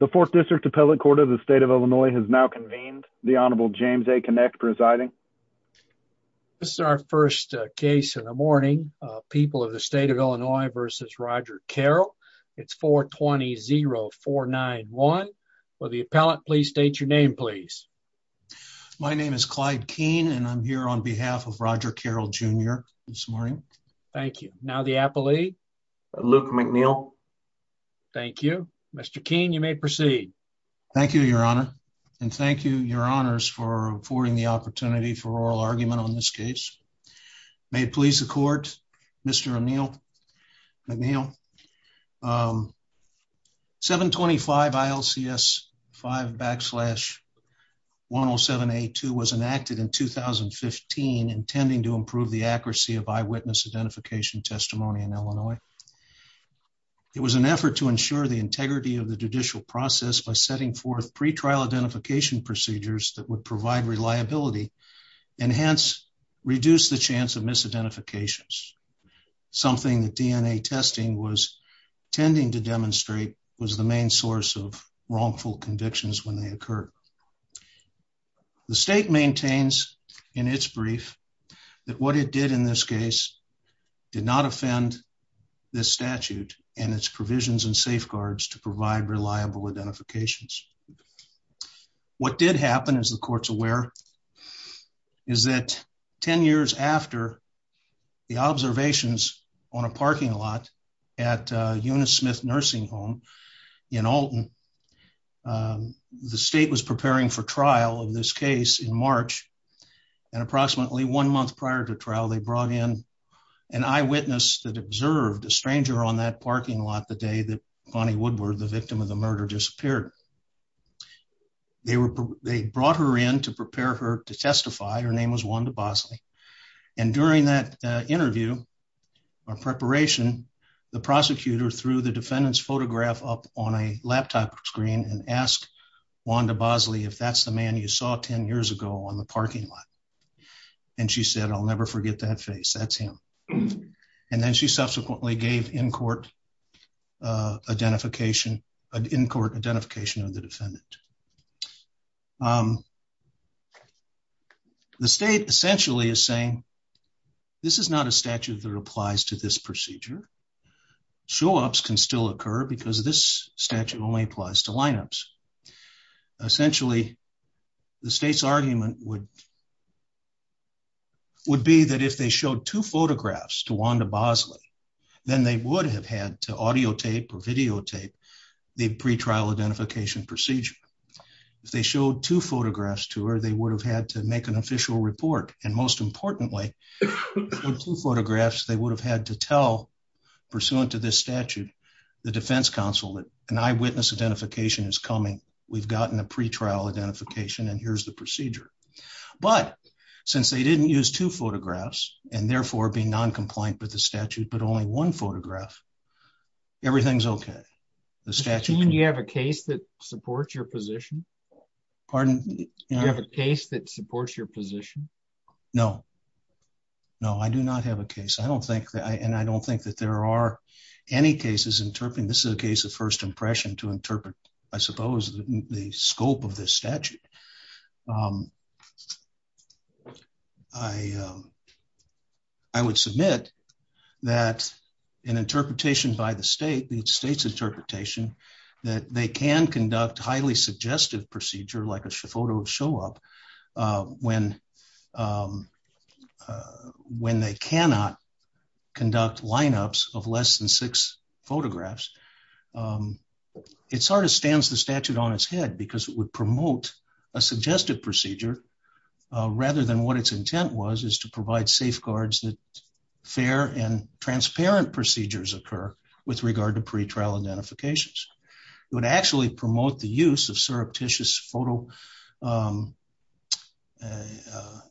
The Fourth District Appellate Court of the State of Illinois has now convened. The Honorable James A. Kinect presiding. This is our first case in the morning. People of the State of Illinois v. Roger Carroll. It's 420-0491. Will the appellant please state your name please? My name is Clyde Keene and I'm here on behalf of Roger Carroll Jr. this morning. Thank you. Now the appellee. Luke McNeil. Thank you. Mr. Keene, you may proceed. Thank you, Your Honor. And thank you, Your Honors, for affording the opportunity for oral argument on this case. May it please the Court, Mr. McNeil. 725-ILCS5-107A2 was enacted in 2015 intending to improve the accuracy of eyewitness identification testimony in Illinois. It was an effort to ensure the integrity of the judicial process by setting forth pretrial identification procedures that would provide reliability and hence reduce the chance of misidentifications, something that DNA testing was tending to demonstrate was the main source of wrongful convictions when they occur. The state maintains in its brief that what it did in this case did not offend this statute and its provisions and safeguards to provide reliable identifications. What did happen, as the Court's aware, is that 10 years after the observations on a parking lot at Eunice Smith Nursing Home in Alton, the state was preparing for trial of this case in March, and approximately one month prior to trial, they brought in an eyewitness that observed a stranger on that parking lot the day that Bonnie Woodward, the victim of the murder, disappeared. They brought her in to prepare her to testify. Her name was Wanda Bosley. During that interview or preparation, the prosecutor threw the defendant's photograph up on a laptop screen and asked Wanda Bosley if that's the man you saw 10 years ago on the parking lot. She said, I'll never forget that face. That's him. Then she subsequently gave in-court identification of the defendant. The state essentially is saying this is not a statute that applies to this procedure. Show-ups can still occur because this statute only applies to lineups. Essentially, the state's argument would be that if they showed two photographs to Wanda Bosley, then they would have had to audio tape or videotape the pre-trial identification procedure. If they showed two photographs to her, they would have had to make an official report, and most importantly, with two photographs, they would have had to tell, pursuant to this statute, the defense counsel that an eyewitness identification is coming. We've gotten a pre-trial identification, and here's the procedure. But since they didn't use two photographs and therefore be non-compliant with the statute, but only one photograph, everything's okay. The statute... Do you have a case that supports your position? Pardon? Do you have a case that supports your position? No. No, I do not have a case. I don't think that there are any cases interpreting... This is a case of first impression to interpret, I suppose, the scope of this statute. I would submit that an interpretation by the state, the state's interpretation, that they can conduct highly suggestive procedure, like a photo of show-up, when they cannot conduct lineups of less than six photographs, it sort of stands the statute on its head, because it would promote a suggested procedure, rather than what its intent was, is to provide safeguards that fair and transparent procedures occur with regard to pre-trial identifications. It would actually promote the use of surreptitious photo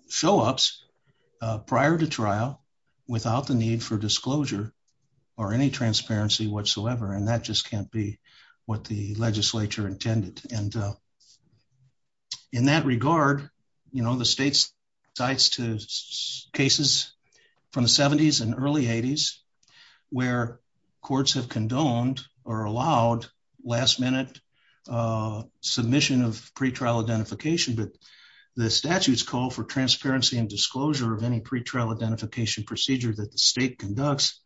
show-ups prior to trial, without the need for disclosure or any transparency whatsoever, and that just can't be what the legislature intended. And in that regard, the state's sites to cases from the 70s and early 80s, where courts have condoned or allowed last minute submission of pre-trial identification, but the statute's call for transparency and disclosure of any pre-trial identification procedure that the state conducts,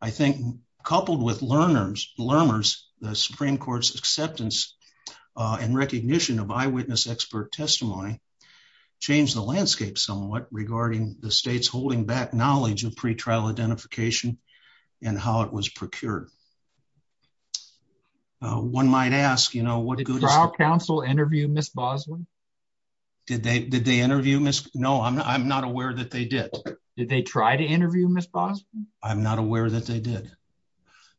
I think, coupled with learners, the Supreme Court's acceptance and recognition of eyewitness expert testimony, changed the landscape somewhat regarding the state's holding back knowledge of pre-trial identification and how it was procured. One might ask, you know, what good... Did trial counsel interview Ms. Boswin? Did they interview Ms.? No, I'm not aware that they did. Did they try to interview Ms. Boswin? I'm not aware that they did.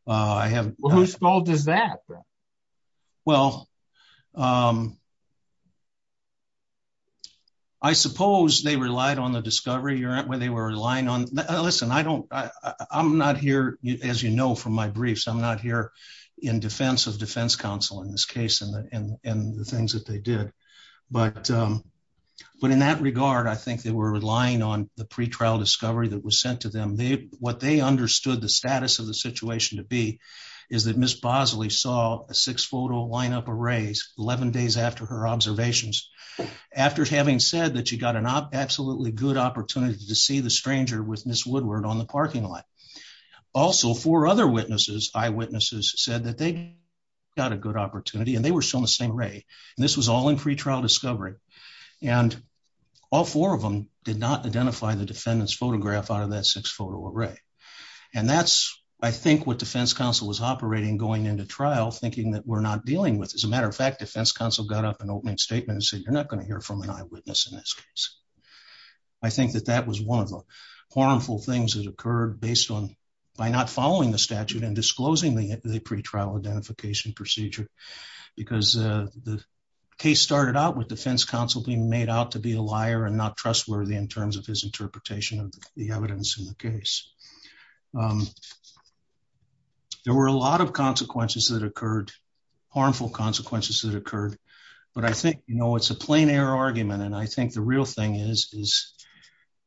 Who's fault is that? Well, I suppose they relied on the discovery where they were relying on... Listen, I don't... I'm not here, as you know from my briefs, I'm not here in defense of defense counsel in this case and the things that they did. But in that regard, I think they were relying on the pre-trial discovery that was sent to them. What they understood the status of the situation to be is that Ms. Boswin saw a six-photo lineup of rays 11 days after her observations, after having said that she got an absolutely good opportunity to see the stranger with Ms. Woodward on the parking lot. Also, four other eyewitnesses said that they got a good opportunity and they were shown the same ray. And this was all in pre-trial discovery. And all four of them did not identify the defendant's photograph out of that six-photo array. And that's, I think, what defense counsel was operating going into trial, thinking that we're not dealing with. As a matter of fact, defense counsel got up an opening statement and said, you're not going to hear from an eyewitness in this case. I think that that was one of the harmful things that occurred by not following the statute and disclosing the pre-trial identification procedure. Because the case started out with defense counsel being made out to be a liar and not trustworthy in terms of his interpretation of the evidence in the case. There were a lot of consequences that occurred, harmful consequences that occurred. But I think, you know, it's a plein air argument. And I think the real thing is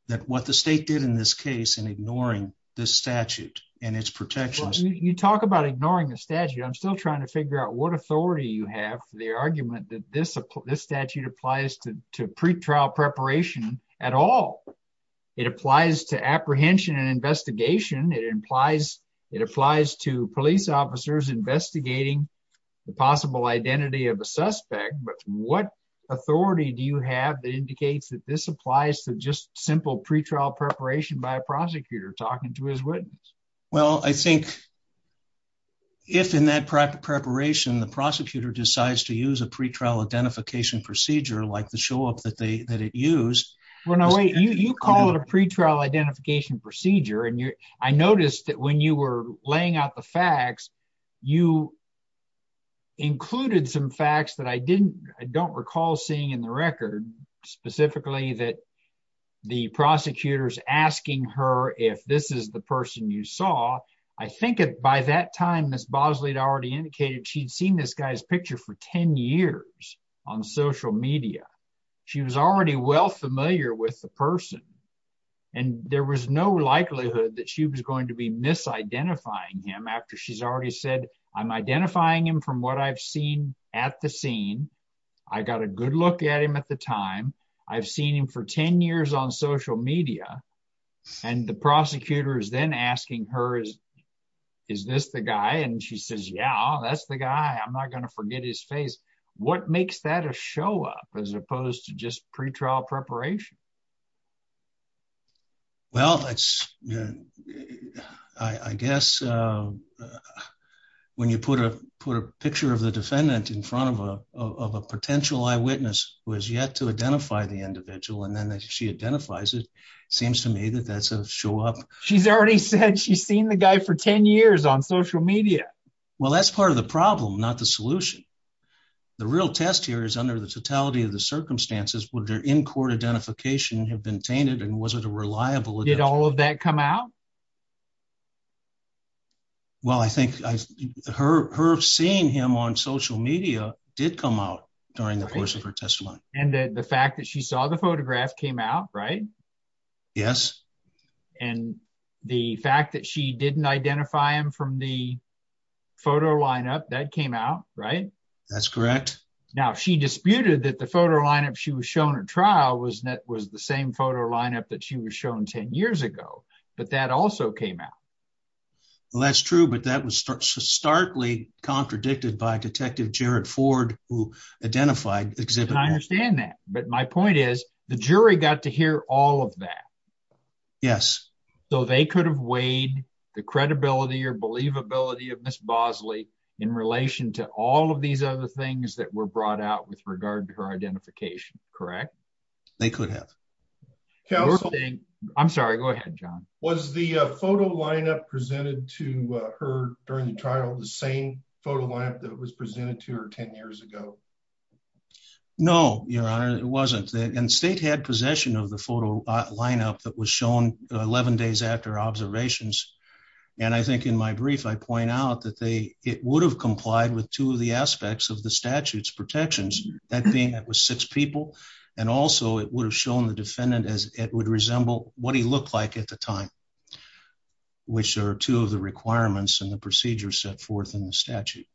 that what the state did in this case in ignoring the statute and its protections. You talk about ignoring the statute. I'm still trying to figure out what authority you have for the argument that this statute applies to pre-trial preparation at all. It applies to apprehension and investigation. It applies to police officers investigating the possible identity of a suspect. But what authority do you have that indicates that this applies to just simple pre-trial preparation by a prosecutor talking to his witness? Well, I think if in that preparation the prosecutor decides to use a pre-trial identification procedure like the show-up that they that it used. Well, no, wait. You call it a pre-trial identification procedure. And I noticed that when you were laying out the facts, you included some facts that I didn't, I don't recall seeing in the record, specifically that the prosecutor's asking her if this is the person you I think by that time, Ms. Bosley had already indicated she'd seen this guy's picture for 10 years on social media. She was already well familiar with the person. And there was no likelihood that she was going to be misidentifying him after she's already said, I'm identifying him from what I've seen at the scene. I got a good look at him at the time. I've seen him for 10 years. And she's asking her, is this the guy? And she says, yeah, that's the guy. I'm not going to forget his face. What makes that a show-up as opposed to just pre-trial preparation? Well, I guess when you put a picture of the defendant in front of a potential eyewitness who has yet to identify the individual, and then that she identifies it seems to me that that's show-up. She's already said she's seen the guy for 10 years on social media. Well, that's part of the problem, not the solution. The real test here is under the totality of the circumstances, would their in-court identification have been tainted and was it a reliable? Did all of that come out? Well, I think her seeing him on social media did come out during the course of her trial. And the fact that she didn't identify him from the photo lineup, that came out, right? That's correct. Now, she disputed that the photo lineup she was shown at trial was that was the same photo lineup that she was shown 10 years ago, but that also came out. Well, that's true, but that was starkly contradicted by Detective Jared Ford who identified the exhibit. I understand that, but my point is the jury got to hear all of that. Yes. So they could have weighed the credibility or believability of Ms. Bosley in relation to all of these other things that were brought out with regard to her identification, correct? They could have. I'm sorry, go ahead, John. Was the photo lineup presented to her during the trial the same photo lineup that it wasn't? And state had possession of the photo lineup that was shown 11 days after observations. And I think in my brief, I point out that it would have complied with two of the aspects of the statute's protections, that being that was six people. And also it would have shown the defendant as it would resemble what he looked like at the time, which are two of the requirements and the procedures set forth in the statute.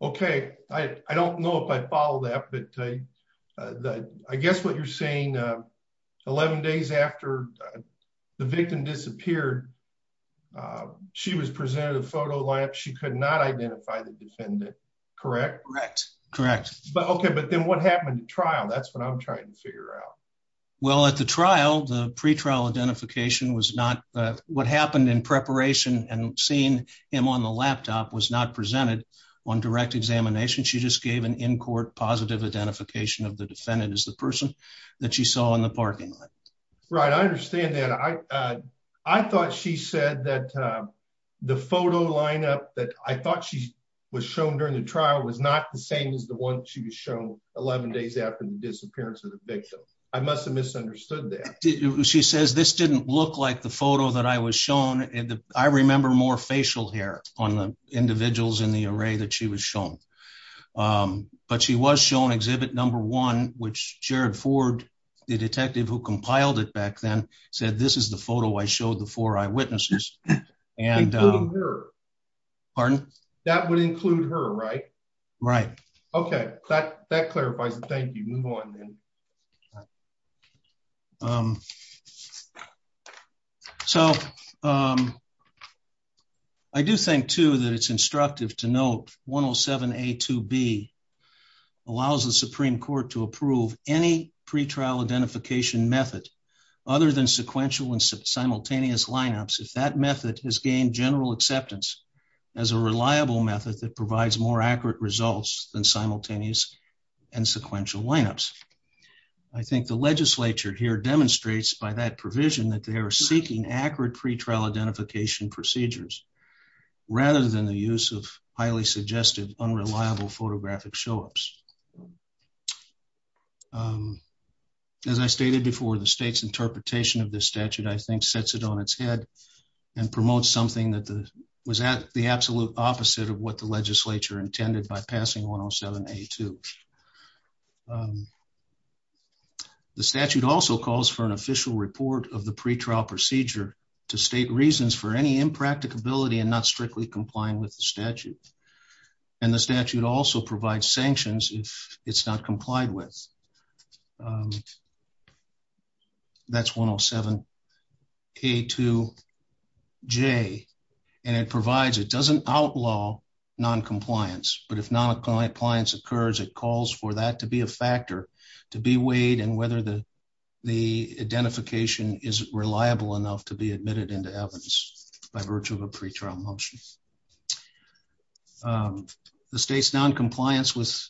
Okay. I don't know if I follow that, but I guess what you're saying 11 days after the victim disappeared, she was presented a photo lineup. She could not identify the defendant, correct? Correct. Correct. Okay. But then what happened to trial? That's what I'm trying to figure out. Well, at the trial, the pretrial identification was not what happened in preparation and seeing him on the laptop was not presented on direct examination. She just gave an in court positive identification of the defendant as the person that she saw in the parking lot. Right. I understand that. I thought she said that the photo lineup that I thought she was shown during the trial was not the same as the one she was shown 11 days after the disappearance of the victim. I must have misunderstood that. She says, this didn't look like the photo that I was shown. I remember more facial hair on the individuals in the array that she was shown. But she was shown exhibit number one, which Jared Ford, the detective who compiled it back then said, this is the photo I showed the four eyewitnesses. And that would include her, right? Right. Okay. That clarifies it. Thank you. Move on then. Um, so, um, I do think too, that it's instructive to note 107 A to B allows the Supreme Court to approve any pretrial identification method other than sequential and simultaneous lineups. If that method has gained general acceptance as a reliable method that provides more accurate results than simultaneous and sequential lineups. I think the legislature here demonstrates by that provision that they are seeking accurate pretrial identification procedures rather than the use of highly suggested, unreliable photographic show ups. Um, as I stated before the state's interpretation of this statute, I think sets it on its head and promote something that was at the absolute opposite of what the legislature intended by passing 107 82. Um, the statute also calls for an official report of the pretrial procedure to state reasons for any impracticability and not strictly complying with the statute. And the statute also provides sanctions if it's not complied with. Um, that's 107 K two J. And it provides, it doesn't outlaw noncompliance. But if not a client clients occurs, it calls for that to be a factor to be weighed and whether the identification is reliable enough to be admitted into evidence by virtue of a pretrial motion. Um, the state's noncompliance with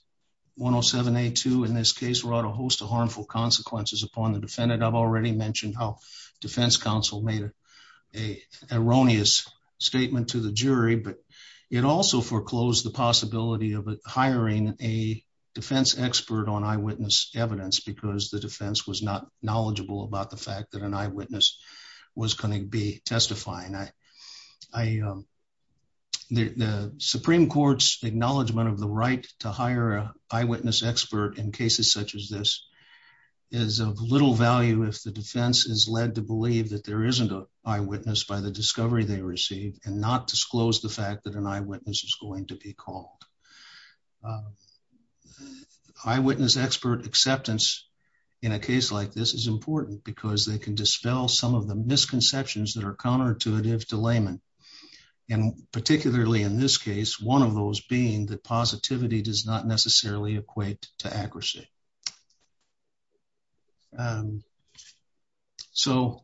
107 82 in this case brought a host of harmful consequences upon the defendant. I've already mentioned how defense counsel made a erroneous statement to the jury, but it also foreclosed the possibility of hiring a defense expert on eyewitness evidence because the defense was not knowledgeable about the fact that an eyewitness was going to be testifying. I, I, um, the Supreme court's acknowledgement of the right to hire eyewitness expert in cases such as this is of little value if the defense is led to believe that there isn't a eyewitness by the discovery they received and not disclose the fact that an eyewitness is going to be called. Um, eyewitness expert acceptance in a case like this is important because they can dispel some of the misconceptions that are counterintuitive to layman. And particularly in this case, one of those being that positivity does not necessarily equate to accuracy. Um, so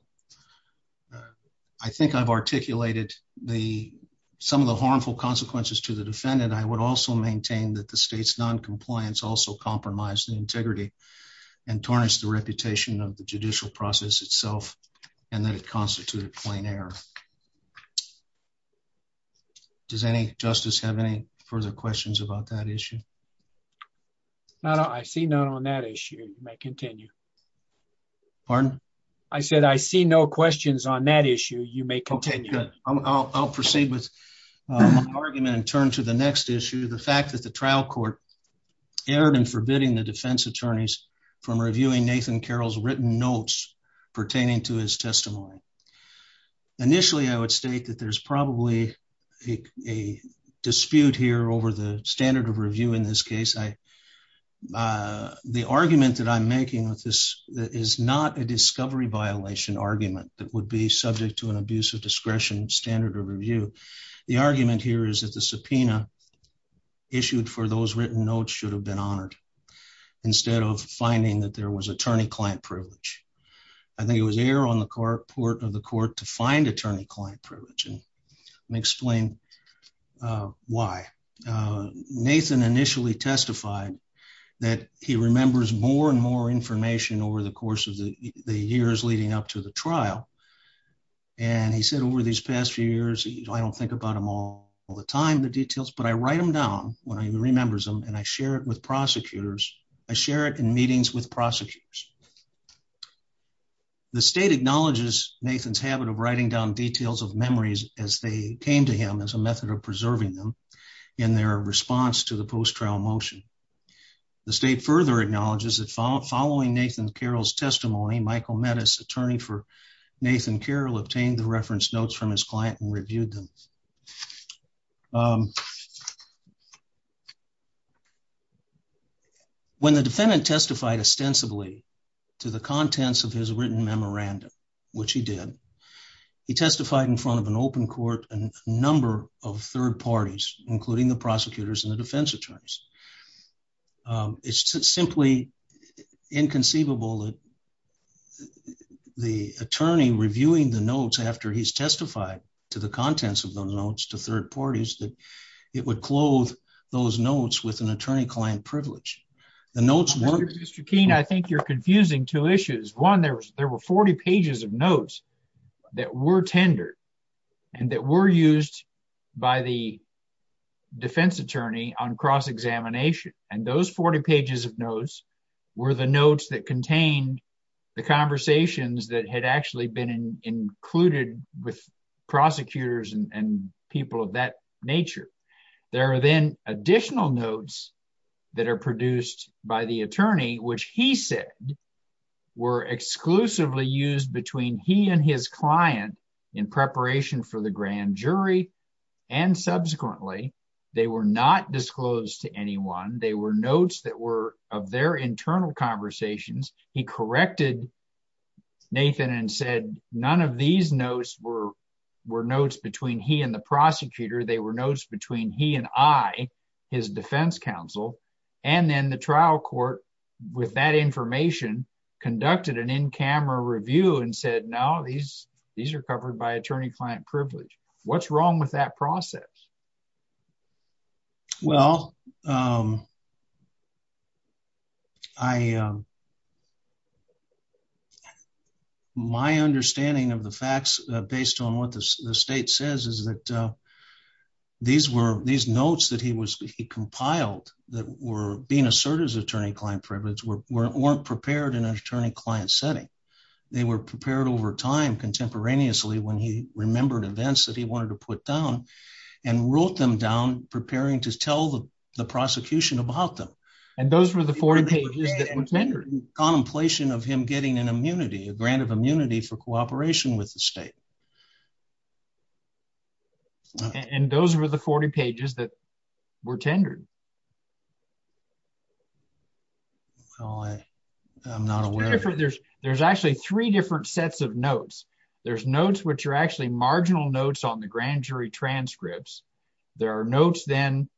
I think I've articulated the, some of the harmful consequences to the defendant. I would also maintain that the state's noncompliance also compromised the integrity and tarnish the reputation of the judicial process itself and that it constituted plain error. Okay. Does any justice have any further questions about that issue? No, no. I see none on that issue. You may continue. Pardon? I said, I see no questions on that issue. You may continue. I'll proceed with my argument and turn to the next issue. The fact that the trial court erred in forbidding the defense attorneys from reviewing Nathan Carroll's written notes pertaining to his testimony. Initially, I would state that there's probably a dispute here over the standard of review in this case. I, uh, the argument that I'm making with this is not a discovery violation argument that would be subject to an abuse of discretion standard of review. The argument here is that the subpoena issued for those written notes should have been honored instead of finding that there was attorney client privilege. I think it was air on the court port of the court to find attorney client privilege. And let me explain, uh, why, uh, Nathan initially testified that he remembers more and more information over the course of the years leading up to the trial. And he said, over these past few years, I don't think about them all all the time, the details, but I write them down when he remembers them and I share it with prosecutors. I share it in meetings with prosecutors. The state acknowledges Nathan's habit of writing down details of memories as they came to him as a method of preserving them in their response to the post trial motion. The state further acknowledges that following Nathan Carroll's testimony, Michael Metis, attorney for Nathan Carroll, obtained the reference notes from his client and reviewed them. Um, when the defendant testified ostensibly to the contents of his written memorandum, which he did, he testified in front of an open court, a number of third parties, including the prosecutors and the defense attorneys. Um, it's simply inconceivable that the attorney reviewing the notes after he's testified to the contents of those notes to third parties, that it would clothe those notes with an attorney client privilege. The notes weren't. Mr. Keene, I think you're confusing two issues. One, there was, there were 40 pages of notes that were tendered and that were used by the defense attorney on cross examination. And those 40 pages of notes were the notes that contained the conversations that had actually been included with prosecutors and people of that nature. There are then additional notes that are produced by the attorney, which he said were exclusively used between he and his client in preparation for the grand jury. And subsequently they were not disclosed to anyone. They were notes that were of their internal conversations. He corrected Nathan and said, none of these notes were, were notes between he and the prosecutor. They were notes between he and I, his defense counsel. And then the trial court with that information conducted an in-camera review and said, no, these, these are covered by attorney client privilege. What's wrong with that process? Well, um, I, um, my understanding of the facts, uh, based on what the state says is that, uh, these were these notes that he was, he compiled that were being asserted as attorney client privilege were, weren't prepared in an attorney client setting. They were prepared over time contemporaneously when he remembered events that he wanted to put down and wrote them down, preparing to tell the prosecution about them. And those were the 40 pages that were tendered contemplation of him getting an immunity, a grant of immunity for cooperation with the state. And those were the 40 pages that were tendered. Well, I, I'm not aware. There's, there's actually three different sets of notes. There's notes, which are actually marginal notes on the grand jury transcripts. There are notes then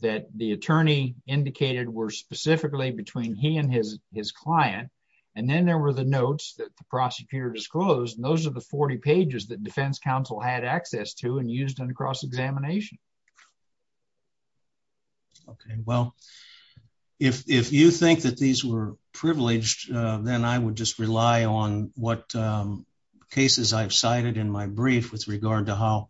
that the attorney indicated were specifically between he and his, his client. And then there were the notes that the prosecutor disclosed. And those are the 40 pages that cross examination. Okay. Well, if, if you think that these were privileged, uh, then I would just rely on what, um, cases I've cited in my brief with regard to how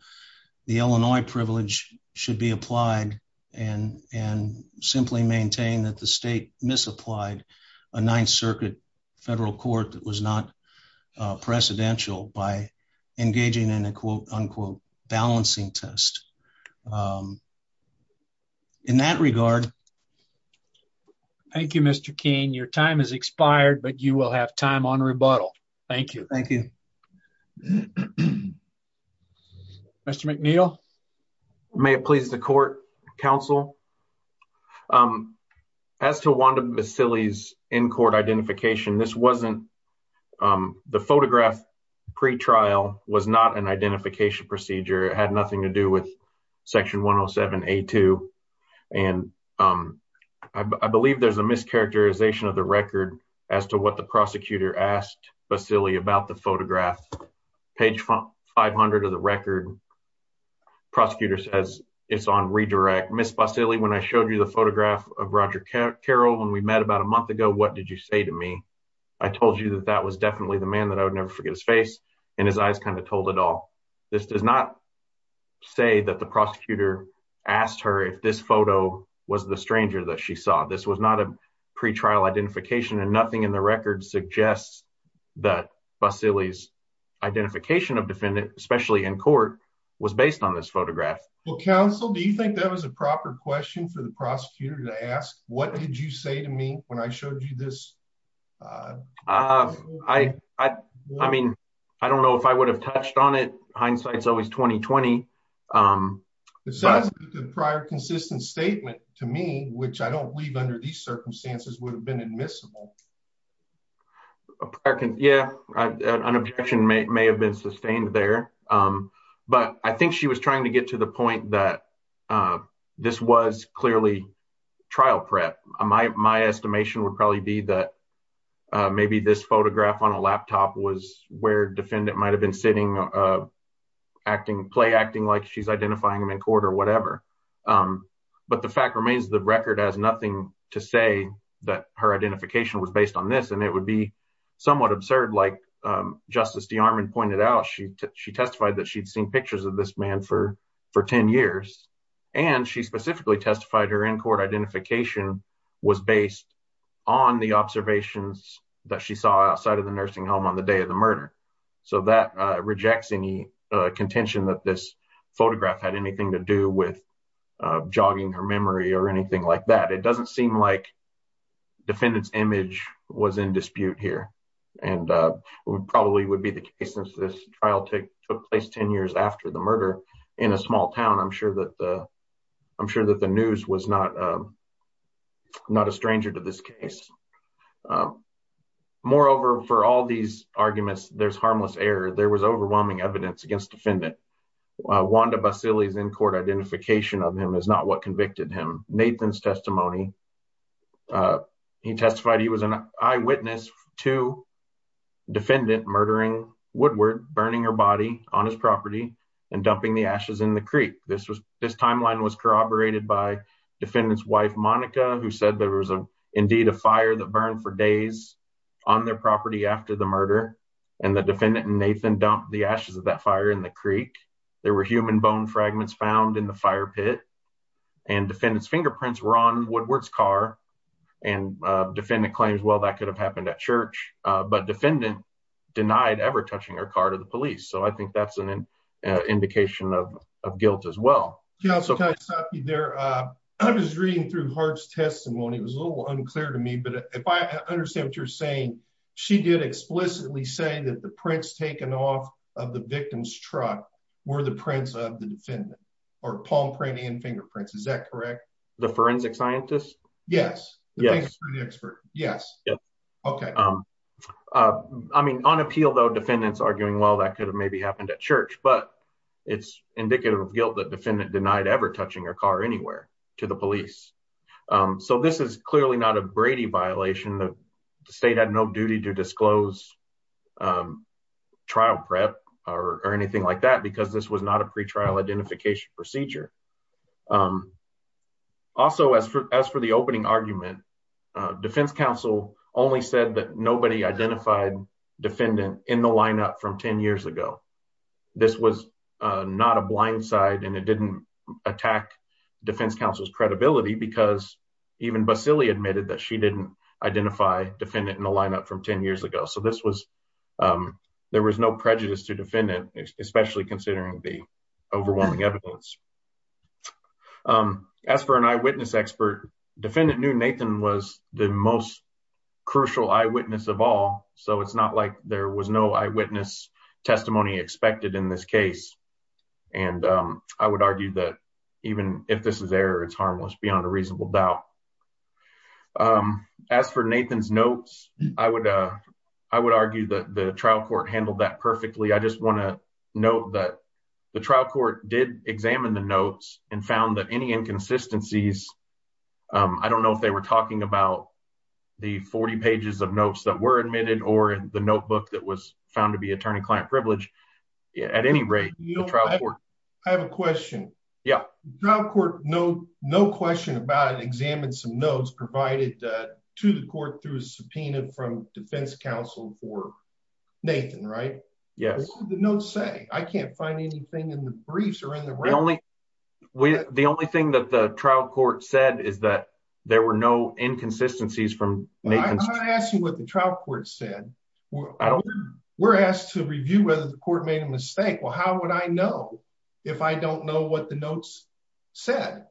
the Illinois privilege should be applied and, and simply maintain that the state misapplied a ninth circuit federal court that was not, uh, precedential by engaging in a quote unquote balancing test. Um, in that regard. Thank you, Mr. King, your time has expired, but you will have time on rebuttal. Thank you. Mr. McNeil, may it please the court council. Um, as to Wanda, Vasily's in-court identification, this wasn't, um, the photograph pre-trial was not an identification procedure. It had nothing to do with section 107A2. And, um, I believe there's a mischaracterization of the record as to what the prosecutor asked Vasily about the photograph page 500 of the record. Prosecutor says it's on redirect. Ms. Vasily, when I showed you the about a month ago, what did you say to me? I told you that that was definitely the man that I would never forget his face and his eyes kind of told it all. This does not say that the prosecutor asked her if this photo was the stranger that she saw. This was not a pre-trial identification and nothing in the record suggests that Vasily's identification of defendant, especially in court was based on this photograph. Well, counsel, do you think that was a proper question for prosecutor to ask? What did you say to me when I showed you this? Uh, I, I, I mean, I don't know if I would have touched on it. Hindsight's always 20-20. Um, the prior consistent statement to me, which I don't believe under these circumstances would have been admissible. Yeah, an objection may have been sustained there. Um, but I think she was trying to get to the point that, uh, this was clearly trial prep. My, my estimation would probably be that, uh, maybe this photograph on a laptop was where defendant might have been sitting, uh, acting, play acting like she's identifying him in court or whatever. Um, but the fact remains the record has nothing to say that her identification was based on this and it would be somewhat absurd. Like, um, Justice DeArmond pointed out, she, she testified that she'd seen pictures of this man for, for 10 years and she specifically testified her in-court identification was based on the observations that she saw outside of the nursing home on the day of the murder. So that, uh, rejects any, uh, contention that this photograph had anything to do with, uh, jogging her memory or anything like that. It doesn't seem like defendant's image was in dispute here and, uh, would probably would be the case since this trial took place 10 years after the murder in a small town. I'm sure that, uh, I'm sure that the news was not, um, not a stranger to this case. Um, moreover, for all these arguments, there's harmless error. There was overwhelming evidence against defendant. Wanda Basile's in-court identification of him is not what convicted him. Nathan's testimony, uh, he testified he was an eyewitness to defendant murdering Woodward, burning her body on his property and dumping the ashes in the creek. This was, this timeline was corroborated by defendant's wife, Monica, who said there was a, indeed a fire that burned for days on their property after the murder and the defendant and Nathan dumped the ashes of that fire in the creek. There were human bone fragments found in the fire pit and defendant's fingerprints were on Woodward's car and, uh, defendant claims, well, that could have happened at church, uh, but defendant denied ever touching her car to the police. So I think that's an indication of, of guilt as well. Yeah. I'm just reading through Hart's testimony. It was a little unclear to me, but if I understand what you're saying, she did explicitly say that the prints taken off of the victim's truck were the prints of the defendant or palm printing and fingerprints. Is that correct? The forensic scientists? Yes. Yes. Okay. Um, uh, I mean on appeal though, defendants arguing, well, that could have maybe happened at church, but it's indicative of guilt that defendant denied ever touching her car anywhere to the police. Um, so this is clearly not a Brady violation. The state had no duty to disclose, um, trial prep or anything like that, because this was not a pretrial identification procedure. Um, also as for, as for the opening argument, uh, defense counsel only said that nobody identified defendant in the lineup from 10 years ago. This was, uh, not a blind side and it didn't attack defense counsel's credibility because even Basile admitted that she didn't identify defendant in the lineup from 10 years ago. So this was, um, there was no prejudice to defendant, especially considering the overwhelming evidence. Um, as for an eyewitness expert, defendant knew Nathan was the most crucial eyewitness of all. So it's not like there was no eyewitness testimony expected in this case. And, um, I would argue that even if this is error, it's harmless beyond a reasonable doubt. Um, as for Nathan's notes, I would, uh, I would argue that the trial court handled that perfectly. I just want to note that the trial court did examine the notes and found that any inconsistencies, um, I don't know if they were talking about the 40 pages of notes that were admitted or the notebook that was found to be attorney client privilege at any rate. I have a question. Yeah. No court. No, no question about it. Examine some notes provided to the court through a subpoena from defense counsel for Nathan, right? Yes. The notes say I can't find anything in the briefs or in the, the only thing that the trial court said is that there were no inconsistencies from Nathan. I'm not asking what the trial court said. I don't, we're asked to review whether the court made a mistake. Well, how would I know if I don't know what the notes said?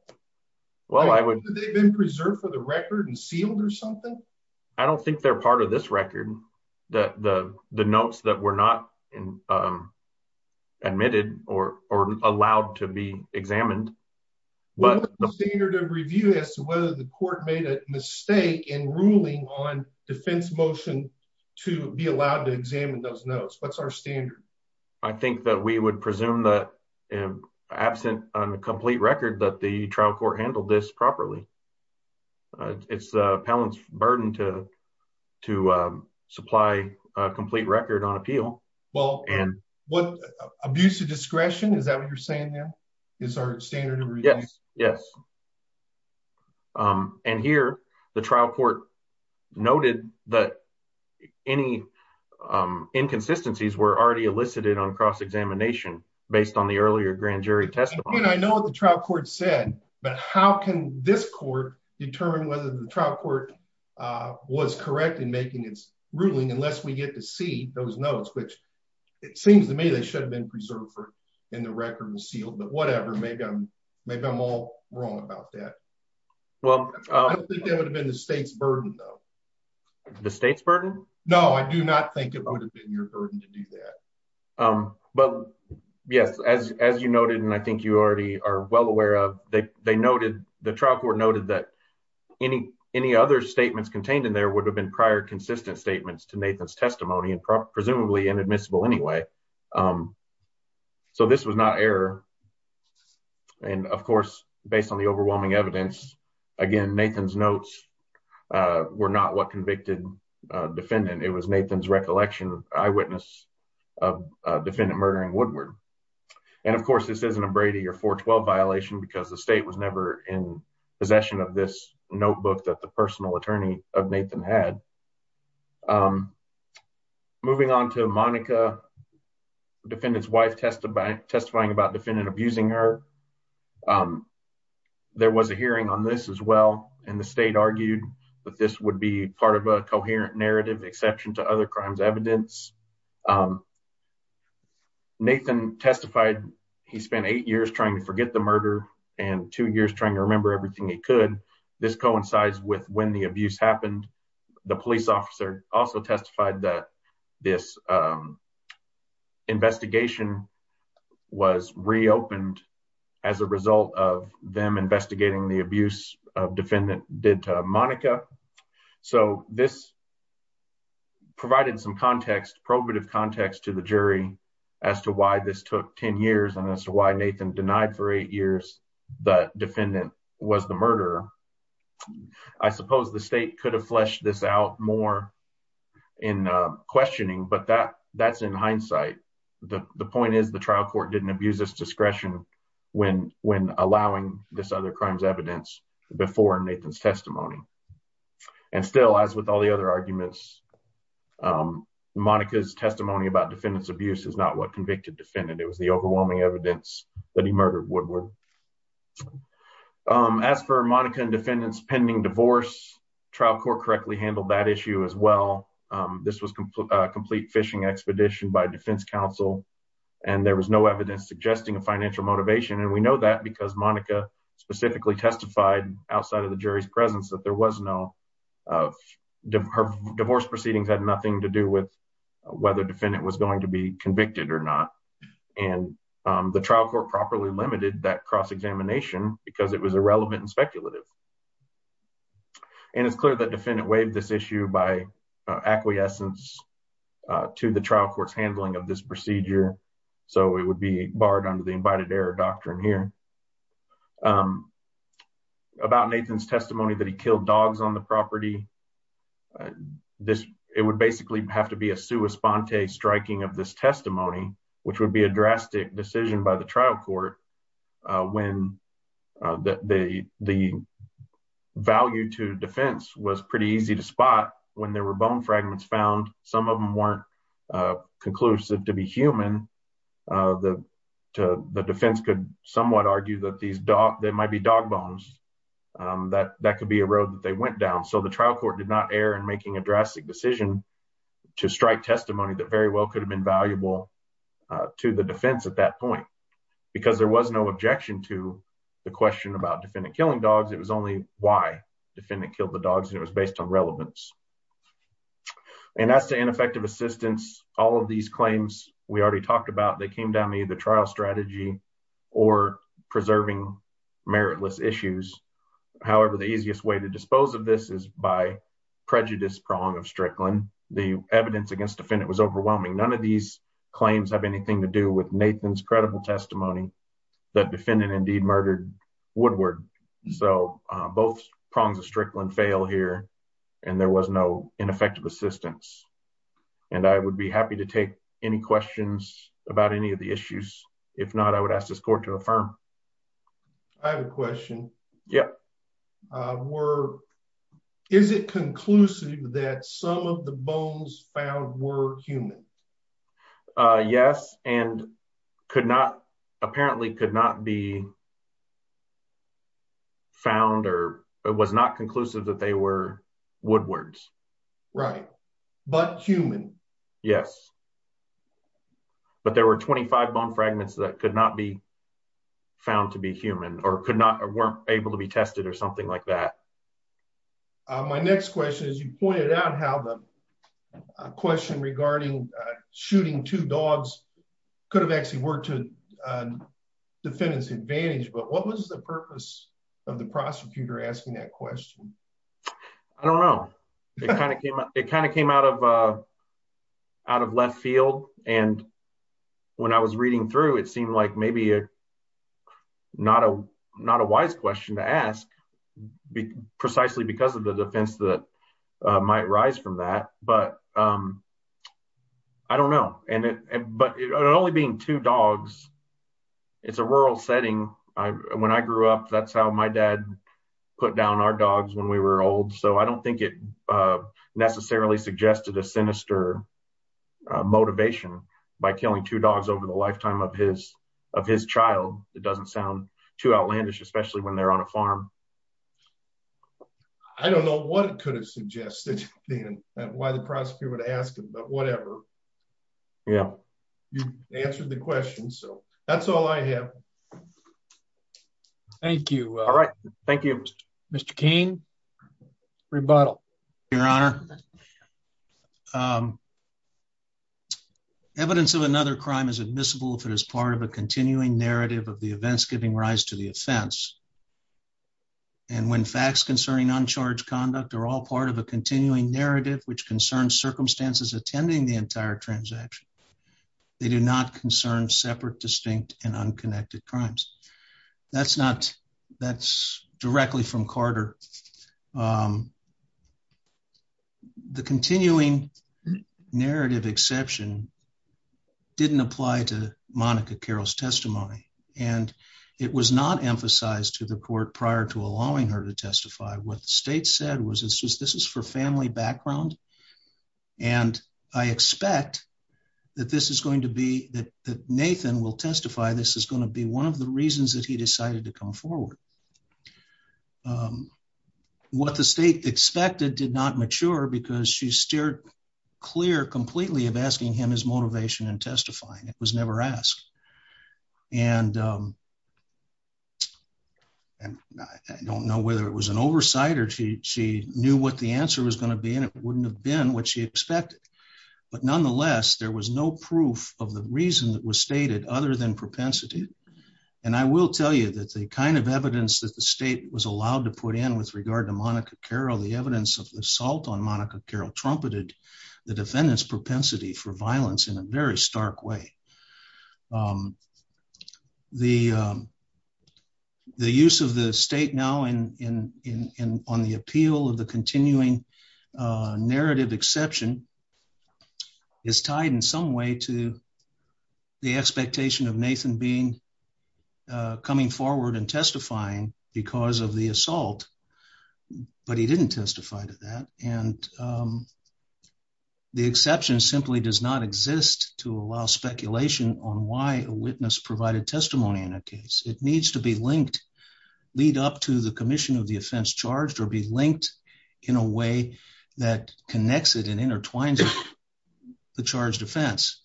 Well, I would, they've been preserved for the record and sealed or something. I don't think they're part of this record that the notes that were not admitted or, or allowed to be examined, but the standard of review as to whether the court made a mistake in ruling on defense motion to be allowed to examine those notes. What's our standard. I think that we would presume that absent on the complete record that the trial court handled this properly. It's a palance burden to, to supply a complete record on appeal. Well, and what abuse of discretion, is that what you're saying now is our standard? Yes. Yes. And here the trial court noted that any inconsistencies were already elicited on cross-examination based on the earlier grand jury testimony. I know what the trial court said, but how can this court determine whether the trial court was correct in making its ruling, unless we get to see those notes, which it seems to me they should have been preserved for and the record was sealed, but whatever, maybe I'm, maybe I'm all wrong about that. Well, I don't think that would have been the state's burden though. The state's burden? No, I do not think it would have been your burden to do that. But yes, as, as you noted, and I think you already are well aware of that. They noted the trial court noted that any, any other statements contained in there would have been prior consistent statements to Nathan's testimony and presumably inadmissible anyway. This was not error. And of course, based on the overwhelming evidence, again, Nathan's notes were not what convicted defendant. It was Nathan's recollection, eyewitness of defendant murdering Woodward. And of course, this isn't a Brady or 412 violation because the state was never in possession of this notebook that the personal attorney of Nathan had. Moving on to Monica, defendant's wife testifying about defendant abusing her. There was a hearing on this as well. And the state argued that this would be part of a coherent narrative exception to other crimes evidence. Nathan testified, he spent eight years trying to forget the murder and two years trying to remember everything he could. This coincides with when the abuse happened. The police officer also testified that this investigation was reopened as a result of them investigating the abuse of defendant did to Monica. So this provided some context probative context to the jury as to why this took 10 years and as to why was the murderer. I suppose the state could have fleshed this out more in questioning, but that's in hindsight. The point is the trial court didn't abuse this discretion when allowing this other crimes evidence before Nathan's testimony. And still, as with all the other arguments, Monica's testimony about defendant's abuse is not what convicted defendant. It was the overwhelming evidence that he murdered Woodward. As for Monica and defendant's pending divorce, trial court correctly handled that issue as well. This was a complete fishing expedition by defense counsel. And there was no evidence suggesting a financial motivation. And we know that because Monica specifically testified outside of the jury's presence that there was no divorce proceedings had nothing to do with whether defendant was going to be convicted or not. And the trial court properly limited that cross because it was irrelevant and speculative. And it's clear that defendant waived this issue by acquiescence to the trial court's handling of this procedure. So it would be barred under the invited error doctrine here about Nathan's testimony that he killed dogs on the property. This it would basically have to be a sua sponte striking of this testimony, which would be a drastic decision by the trial court when the value to defense was pretty easy to spot when there were bone fragments found. Some of them weren't conclusive to be human. The defense could somewhat argue that there might be dog bones that could be a road that they went down. So the trial court did not err in making a drastic decision to strike testimony that very well could have been valuable to the defense at that point, because there was no objection to the question about defendant killing dogs. It was only why defendant killed the dogs. It was based on relevance. And as to ineffective assistance, all of these claims we already talked about, they came down to either trial strategy or preserving meritless issues. However, the easiest way to dispose of this is by prejudice prong of Strickland. The evidence against defendant was overwhelming. None of these claims have anything to do with Nathan's credible testimony that defendant indeed murdered Woodward. So both prongs of Strickland fail here, and there was no ineffective assistance. And I would be happy to take any questions about any of the issues. If not, I would ask this court to affirm. I have a question. Yeah. Is it conclusive that some of the bones found were human? Yes, and apparently could not be found or it was not conclusive that they were Woodward's. Right. But human? Yes. But there were 25 bone fragments that could not be found to be human or could not or weren't able to be tested or something like that. My next question is, you pointed out how the question regarding shooting two dogs could have actually worked to the defendant's advantage. But what was the purpose of the prosecutor asking that question? I don't know. It kind of came out of left field. And when I was reading through, it seemed like maybe not a wise question to ask precisely because of the defense that might rise from that. But I don't know. But only being two dogs, it's a rural setting. When I grew up, that's how my dad put down our dogs when we were old. So I don't think it necessarily suggested a sinister motivation by killing two dogs over the lifetime of his child. It doesn't sound too outlandish, especially when they're on a farm. I don't know what it could have suggested and why the prosecutor would ask him, but whatever. Yeah. You answered the question. So that's all I have. Thank you. All right. Thank you, Mr. Kane. Rebuttal. Your Honor, evidence of another crime is admissible if it is part of a continuing narrative of the events giving rise to the offense. And when facts concerning uncharged conduct are all part of a continuing narrative which concerns circumstances attending the entire transaction, they do not concern separate, distinct, and unconnected crimes. That's directly from Carter. The continuing narrative exception didn't apply to Monica Carroll's testimony. And it was not emphasized to the court prior to allowing her to testify. What the state said was this is for background. And I expect that Nathan will testify this is going to be one of the reasons that he decided to come forward. What the state expected did not mature because she steered clear completely of asking him his motivation in testifying. It was never asked. And I don't know whether it was oversight or she knew what the answer was going to be and it wouldn't have been what she expected. But nonetheless, there was no proof of the reason that was stated other than propensity. And I will tell you that the kind of evidence that the state was allowed to put in with regard to Monica Carroll, the evidence of the assault on Monica Carroll trumpeted the defendant's propensity for violence in a very stark way. The use of the state now on the appeal of the continuing narrative exception is tied in some way to the expectation of Nathan being coming forward and testifying because of the assault. But he didn't testify to that. And um, the exception simply does not exist to allow speculation on why a witness provided testimony in a case. It needs to be linked, lead up to the commission of the offense charged or be linked in a way that connects it and intertwines the charged offense.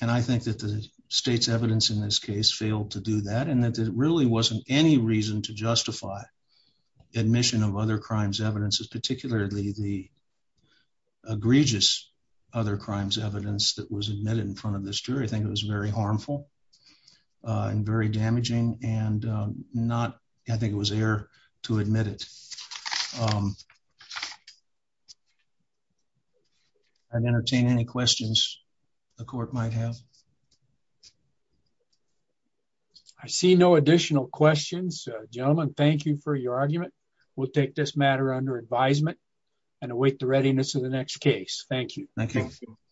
And I think that the state's evidence in this case failed to do that and that it really wasn't any reason to justify admission of other crimes. Evidence is particularly the egregious other crimes evidence that was admitted in front of this jury. I think it was very harmful and very damaging and not. I think it was air to admit it. Um, I've entertained any questions the court might have. Okay. I see no additional questions. Gentlemen, thank you for your argument. We'll take this matter under advisement and await the readiness of the next case. Thank you.